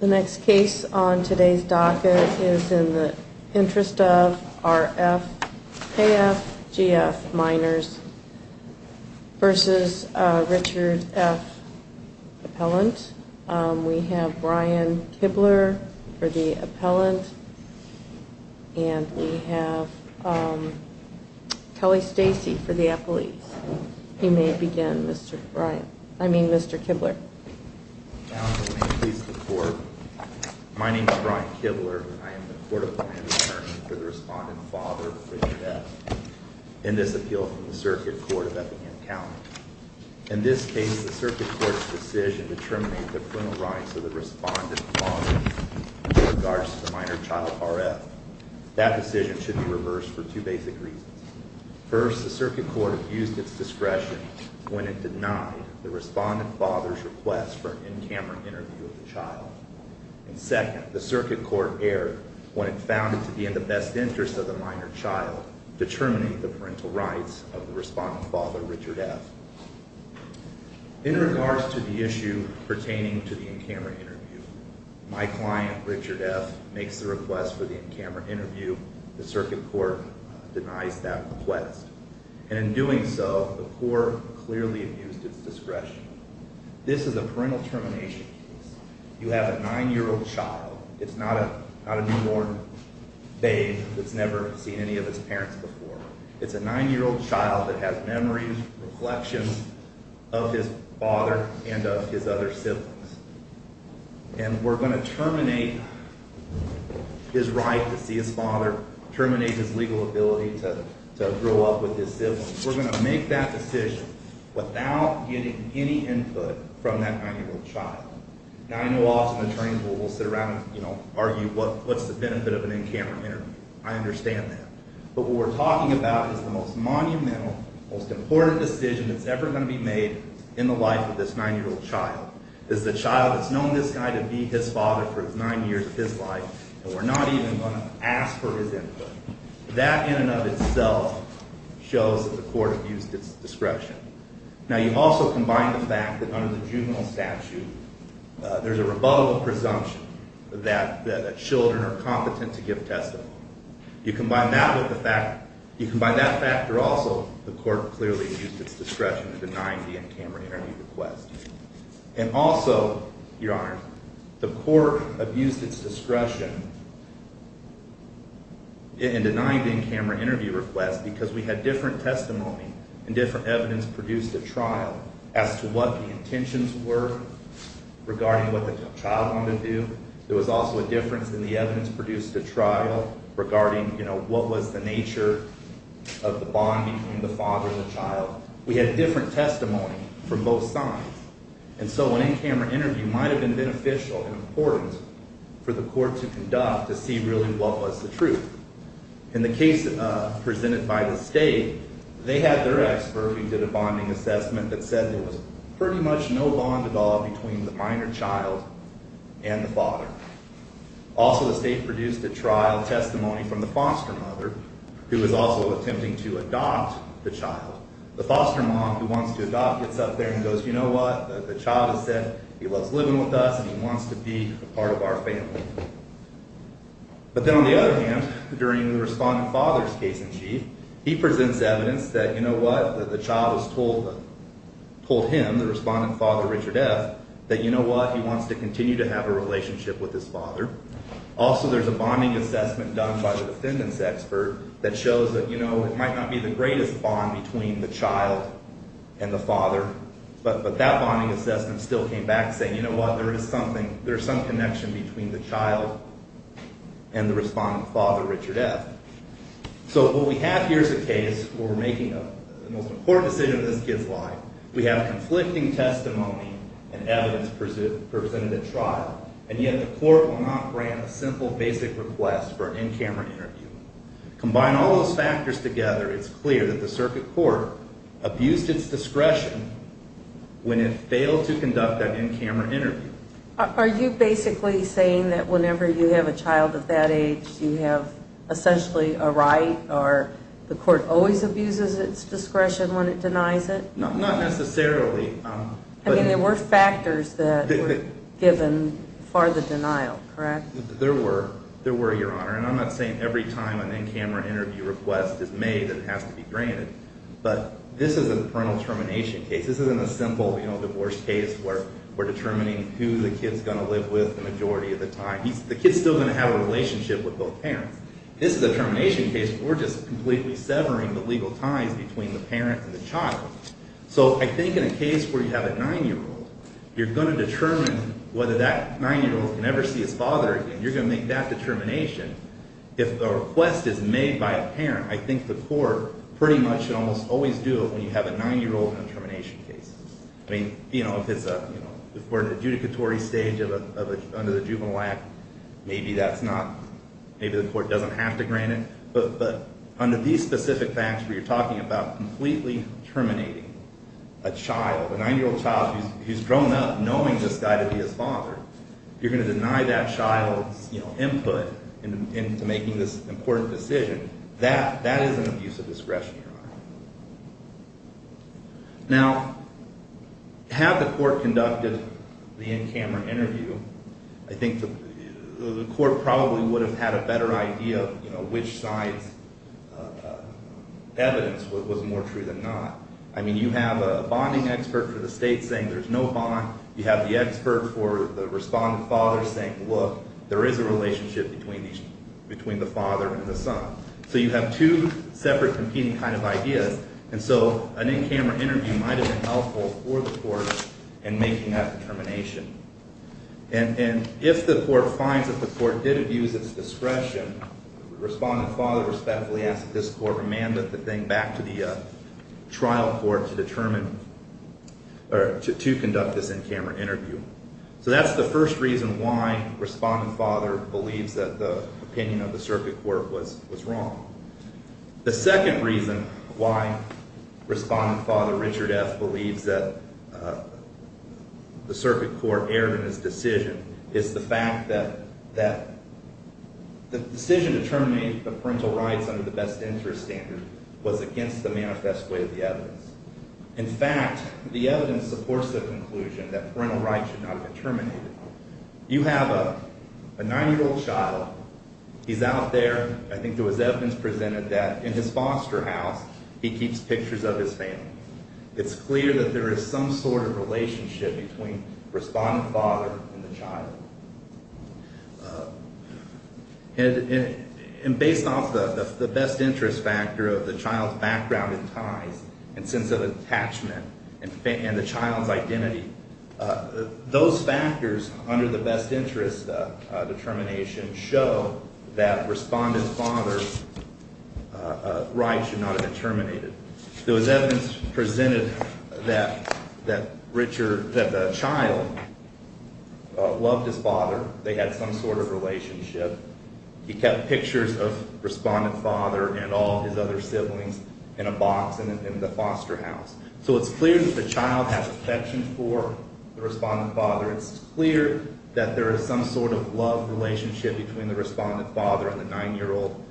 The next case on today's docket is in the interest of R.F., K.F., G.F., Minors versus Richard F. Appellant. We have Brian Kibler for the appellant, and we have Kelly Stacy for the appellee. You may begin, Mr. Kibler. Counsel, may it please the Court, my name is Brian Kibler, and I am the Court of Appellant Attorney for the Respondent Father, Richard F., in this appeal from the Circuit Court of Eppingham County. In this case, the Circuit Court's decision to terminate the criminal rights of the Respondent Father in regards to the minor child, R.F., that decision should be reversed for two basic reasons. First, the Circuit Court abused its discretion when it denied the Respondent Father's request for an in-camera interview of the child. And second, the Circuit Court erred when it found it to be in the best interest of the minor child, determining the parental rights of the Respondent Father, Richard F. In regards to the issue pertaining to the in-camera interview, my client, Richard F., makes the request for the in-camera interview. The Circuit Court denies that request. And in doing so, the Court clearly abused its discretion. This is a parental termination case. You have a nine-year-old child. It's not a newborn babe that's never seen any of its parents before. It's a nine-year-old child that has memories, reflections of his father and of his other siblings. And we're going to terminate his right to see his father, terminate his legal ability to grow up with his siblings. We're going to make that decision without getting any input from that nine-year-old child. Now, I know often attorneys will sit around and, you know, argue what's the benefit of an in-camera interview. I understand that. But what we're talking about is the most monumental, most important decision that's ever going to be made in the life of this nine-year-old child. It's the child that's known this guy to be his father for nine years of his life, and we're not even going to ask for his input. That in and of itself shows that the Court abused its discretion. Now, you also combine the fact that under the juvenile statute, there's a rebuttal presumption that children are competent to give testimony. You combine that with the fact that also the Court clearly abused its discretion in denying the in-camera interview request. And also, Your Honor, the Court abused its discretion in denying the in-camera interview request because we had different testimony and different evidence produced at trial as to what the intentions were regarding what the child wanted to do. There was also a difference in the evidence produced at trial regarding, you know, what was the nature of the bond between the father and the child. We had different testimony from both sides. And so an in-camera interview might have been beneficial and important for the Court to conduct to see really what was the truth. In the case presented by the State, they had their expert who did a bonding assessment that said there was pretty much no bond at all between the minor child and the father. Also, the State produced a trial testimony from the foster mother, who was also attempting to adopt the child. The foster mom, who wants to adopt, gets up there and goes, you know what, the child has said he loves living with us and he wants to be a part of our family. But then on the other hand, during the respondent father's case in chief, he presents evidence that, you know what, the child has told him, the respondent father, Richard F., that, you know what, he wants to continue to have a relationship with his father. Also, there's a bonding assessment done by the defendant's expert that shows that, you know, it might not be the greatest bond between the child and the father, but that bonding assessment still came back saying, you know what, there is something, there is some connection between the child and the respondent father, Richard F. So what we have here is a case where we're making the most important decision in this kid's life. We have conflicting testimony and evidence presented at trial, and yet the court will not grant a simple basic request for an in-camera interview. Combine all those factors together, it's clear that the circuit court abused its discretion when it failed to conduct that in-camera interview. Are you basically saying that whenever you have a child of that age, you have essentially a right, or the court always abuses its discretion when it denies it? Not necessarily. I mean, there were factors that were given for the denial, correct? There were, there were, Your Honor, and I'm not saying every time an in-camera interview request is made, it has to be granted, but this is a parental termination case. This isn't a simple, you know, divorce case where we're determining who the kid's going to live with the majority of the time. The kid's still going to have a relationship with both parents. This is a termination case where we're just completely severing the legal ties between the parent and the child. So I think in a case where you have a 9-year-old, you're going to determine whether that 9-year-old can ever see his father again. You're going to make that determination. If a request is made by a parent, I think the court pretty much should almost always do it when you have a 9-year-old in a termination case. I mean, you know, if it's a, you know, if we're in an adjudicatory stage under the Juvenile Act, maybe that's not, maybe the court doesn't have to grant it. But under these specific facts where you're talking about completely terminating a child, a 9-year-old child who's grown up knowing this guy to be his father, you're going to deny that child's, you know, input into making this important decision. That is an abuse of discretion, Your Honor. Now, had the court conducted the in-camera interview, I think the court probably would have had a better idea of, you know, which side's evidence was more true than not. I mean, you have a bonding expert for the state saying there's no bond. You have the expert for the respondent father saying, look, there is a relationship between the father and the son. So you have two separate competing kind of ideas. And so an in-camera interview might have been helpful for the court in making that determination. And if the court finds that the court did abuse its discretion, respondent father respectfully asked that this court remanded the thing back to the trial court to determine, or to conduct this in-camera interview. So that's the first reason why respondent father believes that the opinion of the circuit court was wrong. The second reason why respondent father Richard F. believes that the circuit court erred in his decision is the fact that the decision to terminate the parental rights under the best interest standard was against the manifest way of the evidence. In fact, the evidence supports the conclusion that parental rights should not be terminated. You have a 9-year-old child. He's out there. I think there was evidence presented that in his foster house, he keeps pictures of his family. It's clear that there is some sort of relationship between respondent father and the child. And based off the best interest factor of the child's background and ties and sense of attachment and the child's identity, those factors under the best interest determination show that respondent father's rights should not have been terminated. There was evidence presented that the child loved his father. They had some sort of relationship. He kept pictures of respondent father and all his other siblings in a box in the foster house. So it's clear that the child has affection for the respondent father. It's clear that there is some sort of love relationship between the respondent father and the 9-year-old.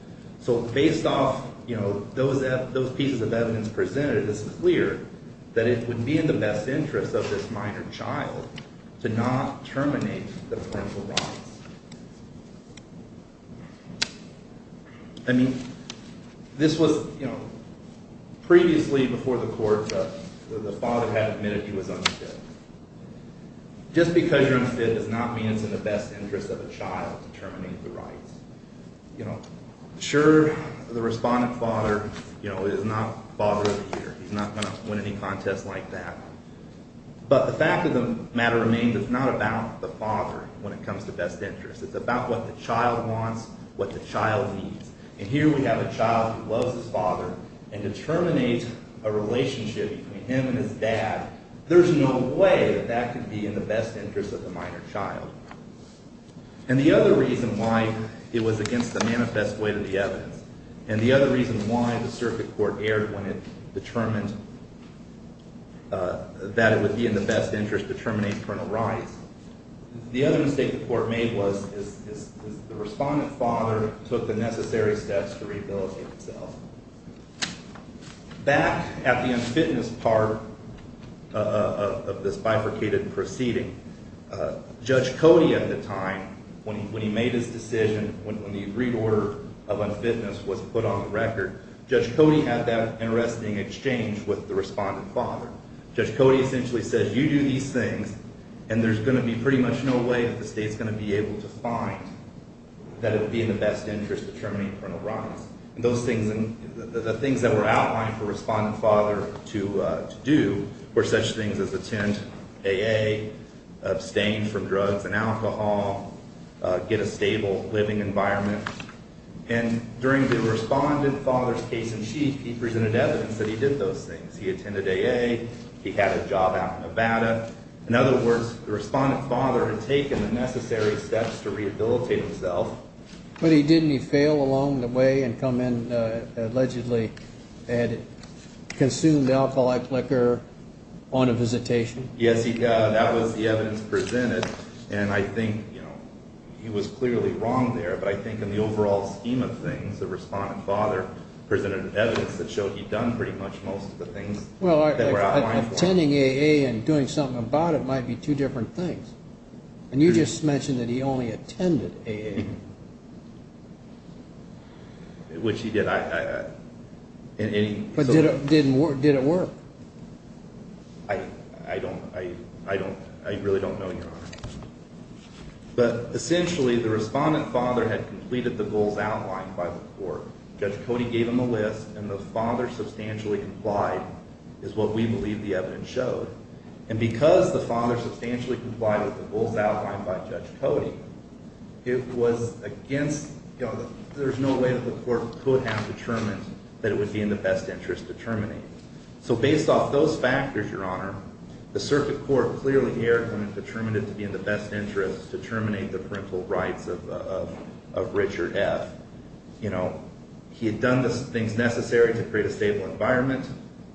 So based off, you know, those pieces of evidence presented, it's clear that it would be in the best interest of this minor child to not terminate the parental rights. I mean, this was, you know, previously before the court, the father had admitted he was unfit. Just because you're unfit does not mean it's in the best interest of a child to terminate the rights. You know, sure, the respondent father, you know, is not father of the year. He's not going to win any contest like that. But the fact of the matter remains, it's not about the father when it comes to best interest. It's about what the child wants, what the child needs. And here we have a child who loves his father and determinates a relationship between him and his dad. There's no way that that could be in the best interest of the minor child. And the other reason why it was against the manifest way to the evidence, and the other reason why the circuit court erred when it determined that it would be in the best interest to terminate parental rights, the other mistake the court made was the respondent father took the necessary steps to rehabilitate himself. Back at the unfitness part of this bifurcated proceeding, Judge Cody at the time, when he made his decision, when the agreed order of unfitness was put on the record, Judge Cody had that interesting exchange with the respondent father. Judge Cody essentially said, you do these things, and there's going to be pretty much no way that the state's going to be able to find that it would be in the best interest to terminate parental rights. And the things that were outlined for respondent father to do were such things as attend AA, abstain from drugs and alcohol, get a stable living environment. And during the respondent father's case-in-chief, he presented evidence that he did those things. He attended AA. He had a job out in Nevada. In other words, the respondent father had taken the necessary steps to rehabilitate himself. But didn't he fail along the way and come in, allegedly had consumed alcoholic liquor on a visitation? Yes, he did. That was the evidence presented. And I think he was clearly wrong there, but I think in the overall scheme of things, the respondent father presented evidence that showed he'd done pretty much most of the things that were outlined for him. Well, attending AA and doing something about it might be two different things. And you just mentioned that he only attended AA. Which he did. But did it work? I don't know. I really don't know, Your Honor. But essentially, the respondent father had completed the goals outlined by the court. Judge Cody gave him a list, and the father substantially complied is what we believe the evidence showed. And because the father substantially complied with the goals outlined by Judge Cody, there's no way that the court could have determined that it would be in the best interest to terminate. So based off those factors, Your Honor, the circuit court clearly erred when it determined it to be in the best interest to terminate the parental rights of Richard F. He had done the things necessary to create a stable environment,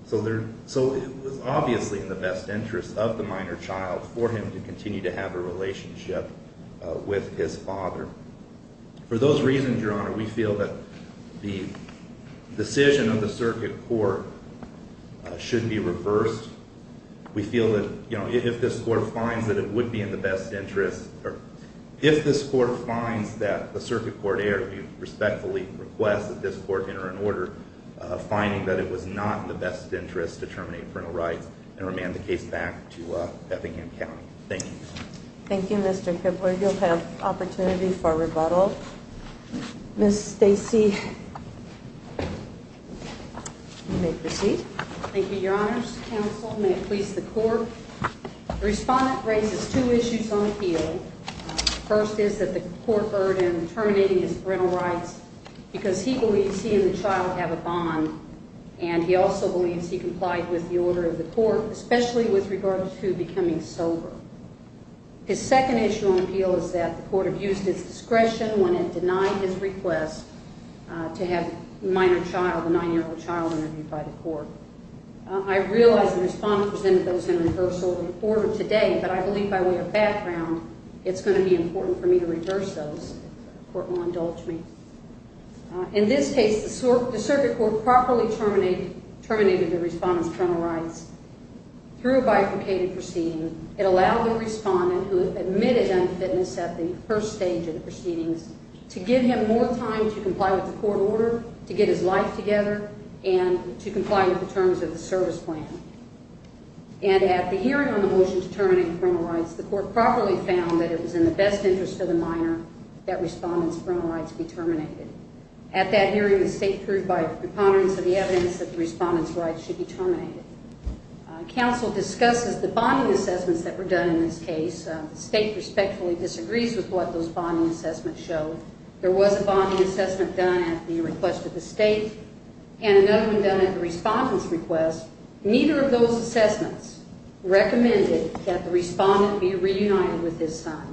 so it was obviously in the best interest of the minor child for him to continue to have a relationship with his father. For those reasons, Your Honor, we feel that the decision of the circuit court should be reversed. We feel that if this court finds that it would be in the best interest, or if this court finds that the circuit court erred, we respectfully request that this court enter an order finding that it was not in the best interest to terminate parental rights and remand the case back to Effingham County. Thank you. Thank you, Mr. Kibler. You'll have opportunity for rebuttal. Ms. Stacy, you may proceed. Thank you, Your Honors. Counsel, may it please the court, the respondent raises two issues on the field. First is that the court erred in terminating his parental rights because he believes he and the child have a bond, and he also believes he complied with the order of the court, especially with regard to becoming sober. His second issue on appeal is that the court abused his discretion when it denied his request to have the minor child, the 9-year-old child, interviewed by the court. I realize the respondent presented those in reversal order today, but I believe by way of background, it's going to be important for me to reverse those if the court will indulge me. In this case, the circuit court properly terminated the respondent's parental rights through a bifurcated proceeding. It allowed the respondent, who admitted unfitness at the first stage of the proceedings, to give him more time to comply with the court order, to get his life together, and to comply with the terms of the service plan. And at the hearing on the motion to terminate the parental rights, the court properly found that it was in the best interest of the minor that respondent's parental rights be terminated. At that hearing, the state proved by preponderance of the evidence that the respondent's rights should be terminated. Counsel discusses the bonding assessments that were done in this case. The state respectfully disagrees with what those bonding assessments show. There was a bonding assessment done at the request of the state, and another one done at the respondent's request. Neither of those assessments recommended that the respondent be reunited with his son.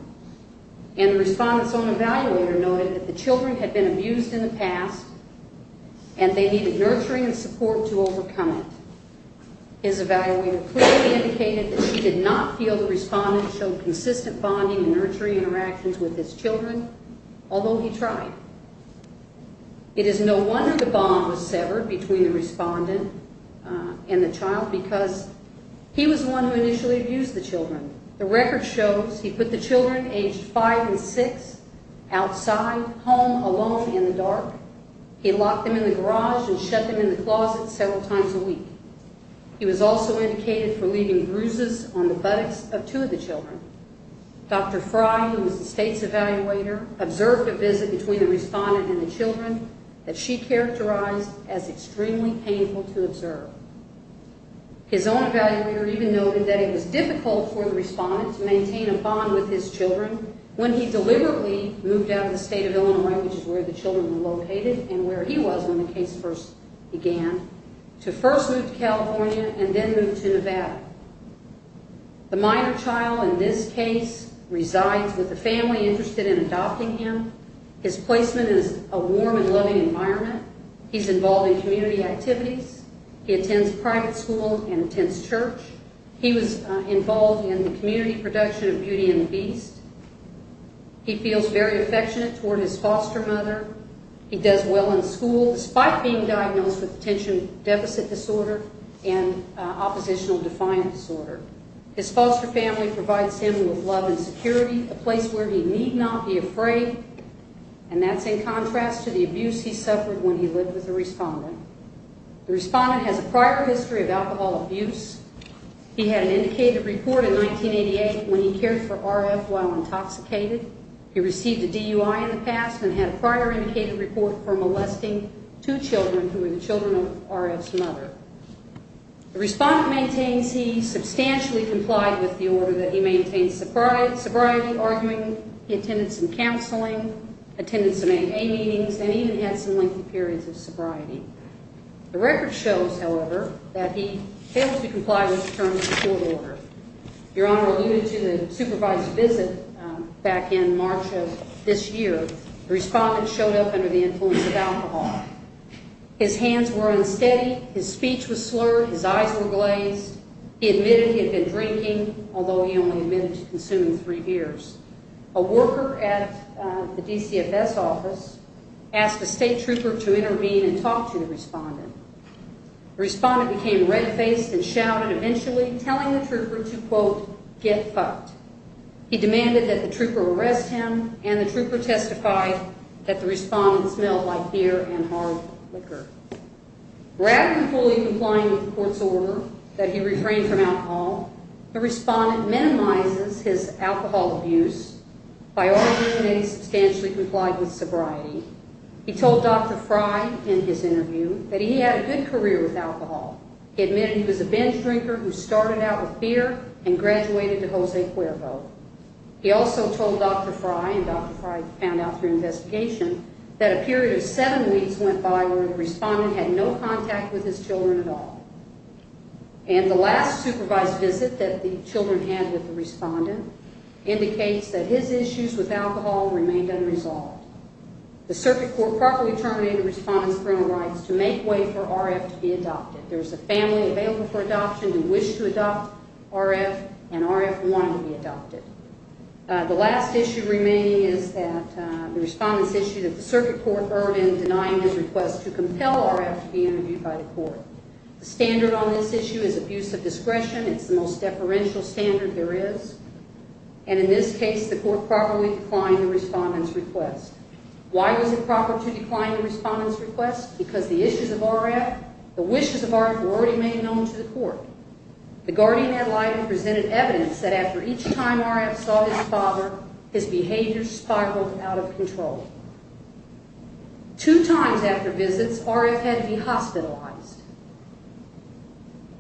And the respondent's own evaluator noted that the children had been abused in the past, and they needed nurturing and support to overcome it. His evaluator clearly indicated that she did not feel the respondent showed consistent bonding and nurturing interactions with his children, although he tried. It is no wonder the bond was severed between the respondent and the child, because he was the one who initially abused the children. The record shows he put the children aged five and six outside, home alone in the dark. He locked them in the garage and shut them in the closet several times a week. He was also indicated for leaving bruises on the buttocks of two of the children. Dr. Fry, who was the state's evaluator, observed a visit between the respondent and the children that she characterized as extremely painful to observe. His own evaluator even noted that it was difficult for the respondent to maintain a bond with his children when he deliberately moved out of the state of Illinois, which is where the children were located and where he was when the case first began, to first move to California and then move to Nevada. The minor child in this case resides with a family interested in adopting him. His placement is a warm and loving environment. He's involved in community activities. He attends private school and attends church. He was involved in the community production of Beauty and the Beast. He feels very affectionate toward his foster mother. He does well in school, despite being diagnosed with attention deficit disorder and oppositional defiant disorder. His foster family provides him with love and security, a place where he need not be afraid, and that's in contrast to the abuse he suffered when he lived with a respondent. The respondent has a prior history of alcohol abuse. He had an indicated report in 1988 when he cared for RF while intoxicated. He received a DUI in the past and had a prior indicated report for molesting two children who were the children of RF's mother. The respondent maintains he substantially complied with the order, that he maintained sobriety, arguing, he attended some counseling, attended some AA meetings, and even had some lengthy periods of sobriety. The record shows, however, that he failed to comply with the terms of the court order. Your Honor alluded to the supervised visit back in March of this year. The respondent showed up under the influence of alcohol. His hands were unsteady. His speech was slurred. His eyes were glazed. He admitted he had been drinking, although he only admitted to consuming three beers. A worker at the DCFS office asked a state trooper to intervene and talk to the respondent. The respondent became red-faced and shouted, eventually telling the trooper to, quote, get fucked. He demanded that the trooper arrest him, and the trooper testified that the respondent smelled like beer and hard liquor. Rather than fully complying with the court's order that he refrain from alcohol, the respondent minimizes his alcohol abuse by arguing that he substantially complied with sobriety. He told Dr. Fry in his interview that he had a good career with alcohol. He admitted he was a binge drinker who started out with beer and graduated to Jose Cuervo. He also told Dr. Fry, and Dr. Fry found out through investigation, that a period of seven weeks went by where the respondent had no contact with his children at all. And the last supervised visit that the children had with the respondent indicates that his issues with alcohol remained unresolved. The circuit court properly terminated the respondent's parental rights to make way for RF to be adopted. There is a family available for adoption who wish to adopt RF, and RF wanted to be adopted. The last issue remaining is that the respondent's issue that the circuit court earned in denying his request to compel RF to be interviewed by the court. The standard on this issue is abuse of discretion. It's the most deferential standard there is. And in this case, the court properly declined the respondent's request. Why was it proper to decline the respondent's request? Because the issues of RF, the wishes of RF, were already made known to the court. The guardian ad litem presented evidence that after each time RF saw his father, his behavior spiraled out of control. Two times after visits, RF had to be hospitalized.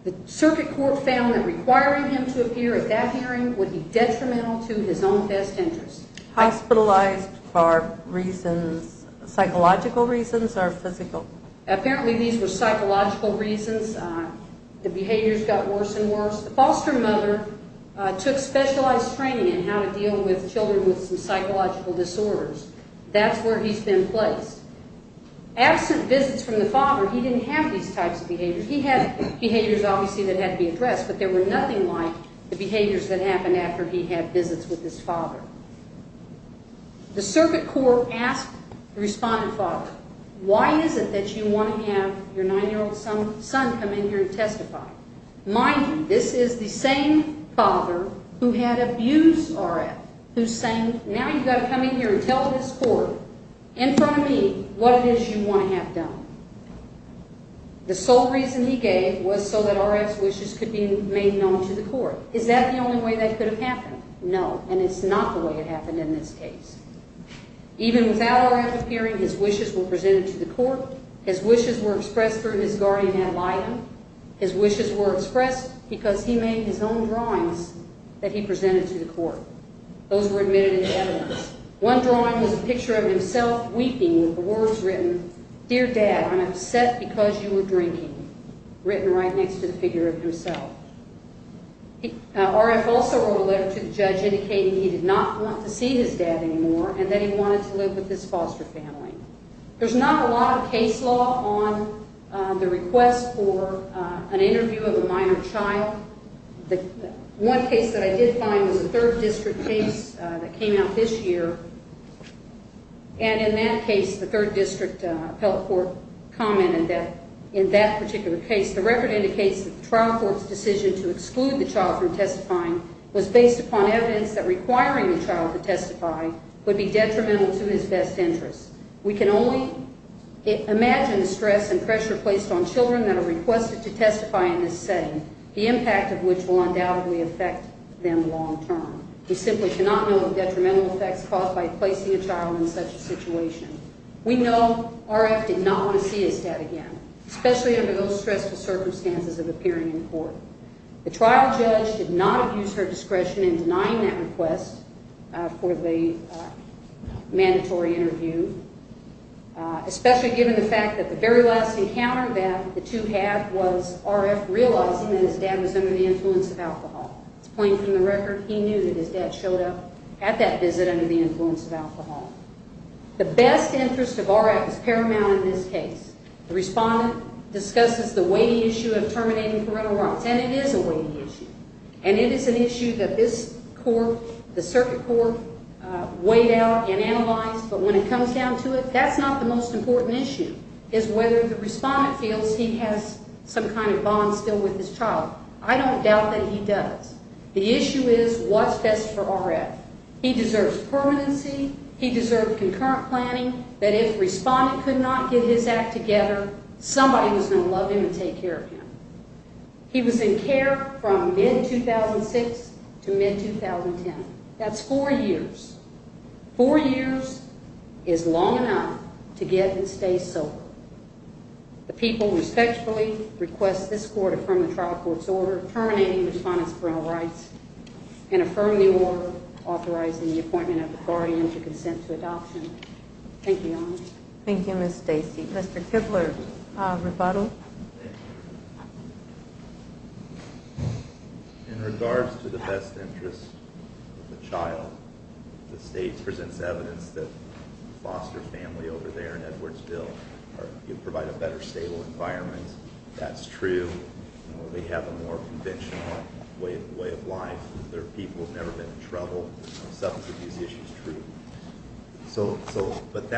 The circuit court found that requiring him to appear at that hearing would be detrimental to his own best interest. Hospitalized for reasons, psychological reasons or physical? Apparently these were psychological reasons. The behaviors got worse and worse. The foster mother took specialized training in how to deal with children with some psychological disorders. That's where he's been placed. Absent visits from the father, he didn't have these types of behaviors. He had behaviors obviously that had to be addressed, but there were nothing like the behaviors that happened after he had visits with his father. The circuit court asked the respondent's father, why is it that you want to have your nine-year-old son come in here and testify? Mind you, this is the same father who had abused RF, who's saying, now you've got to come in here and tell this court in front of me what it is you want to have done. The sole reason he gave was so that RF's wishes could be made known to the court. Is that the only way that could have happened? No, and it's not the way it happened in this case. Even without RF appearing, his wishes were presented to the court. His wishes were expressed through his guardian ad litem. His wishes were expressed because he made his own drawings that he presented to the court. Those were admitted into evidence. One drawing was a picture of himself weeping with the words written, Dear Dad, I'm upset because you were drinking, written right next to the figure of himself. RF also wrote a letter to the judge indicating he did not want to see his dad anymore and that he wanted to live with his foster family. There's not a lot of case law on the request for an interview of a minor child. One case that I did find was a third district case that came out this year. And in that case, the third district appellate court commented that in that particular case, the record indicates that the trial court's decision to exclude the child from testifying was based upon evidence that requiring the child to testify would be detrimental to his best interests. We can only imagine the stress and pressure placed on children that are requested to testify in this setting. The impact of which will undoubtedly affect them long term. We simply cannot know the detrimental effects caused by placing a child in such a situation. We know RF did not want to see his dad again, especially under those stressful circumstances of appearing in court. The trial judge did not abuse her discretion in denying that request for the mandatory interview, especially given the fact that the very last encounter that the two had was RF realizing that his dad was under the influence of alcohol. It's plain from the record, he knew that his dad showed up at that visit under the influence of alcohol. The best interest of RF is paramount in this case. The respondent discusses the weighty issue of terminating parental rights, and it is a weighty issue. And it is an issue that this court, the circuit court, weighed out and analyzed, but when it comes down to it, that's not the most important issue, is whether the respondent feels he has some kind of bond still with his child. I don't doubt that he does. The issue is what's best for RF. He deserves permanency, he deserves concurrent planning, that if respondent could not get his act together, somebody was going to love him and take care of him. He was in care from mid-2006 to mid-2010. That's four years. Four years is long enough to get him to stay sober. The people respectfully request this court affirm the trial court's order terminating the respondent's parental rights and affirm the order authorizing the appointment of the guardian to consent to adoption. Thank you, Your Honor. Thank you, Ms. Stacy. Mr. Kibler, rebuttal. Thank you. In regards to the best interest of the child, the state presents evidence that the foster family over there in Edwardsville provide a better, stable environment. That's true. They have a more conventional way of life. Their people have never been in trouble. Some of these issues are true. But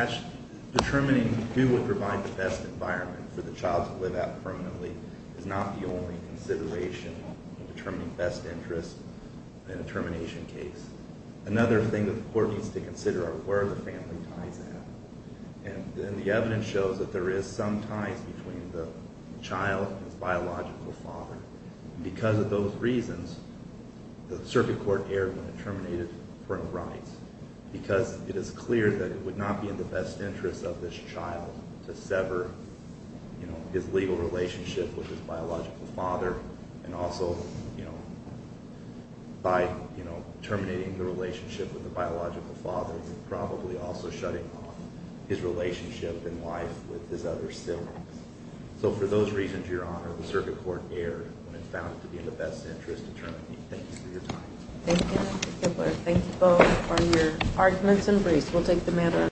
determining who would provide the best environment for the child to live out permanently is not the only consideration in determining best interest in a termination case. Another thing that the court needs to consider are where are the family ties at. And the evidence shows that there is some ties between the child and his biological father. Because of those reasons, the circuit court erred when it terminated parental rights because it is clear that it would not be in the best interest of this child to sever his legal relationship with his biological father and also by terminating the relationship with the biological father, probably also shutting off his relationship in life with his other siblings. So for those reasons, Your Honor, the circuit court erred when it found it to be in the best interest to terminate. Thank you for your time. Thank you, Mr. Kibler. Thank you both for your arguments and briefs. We'll take the matter-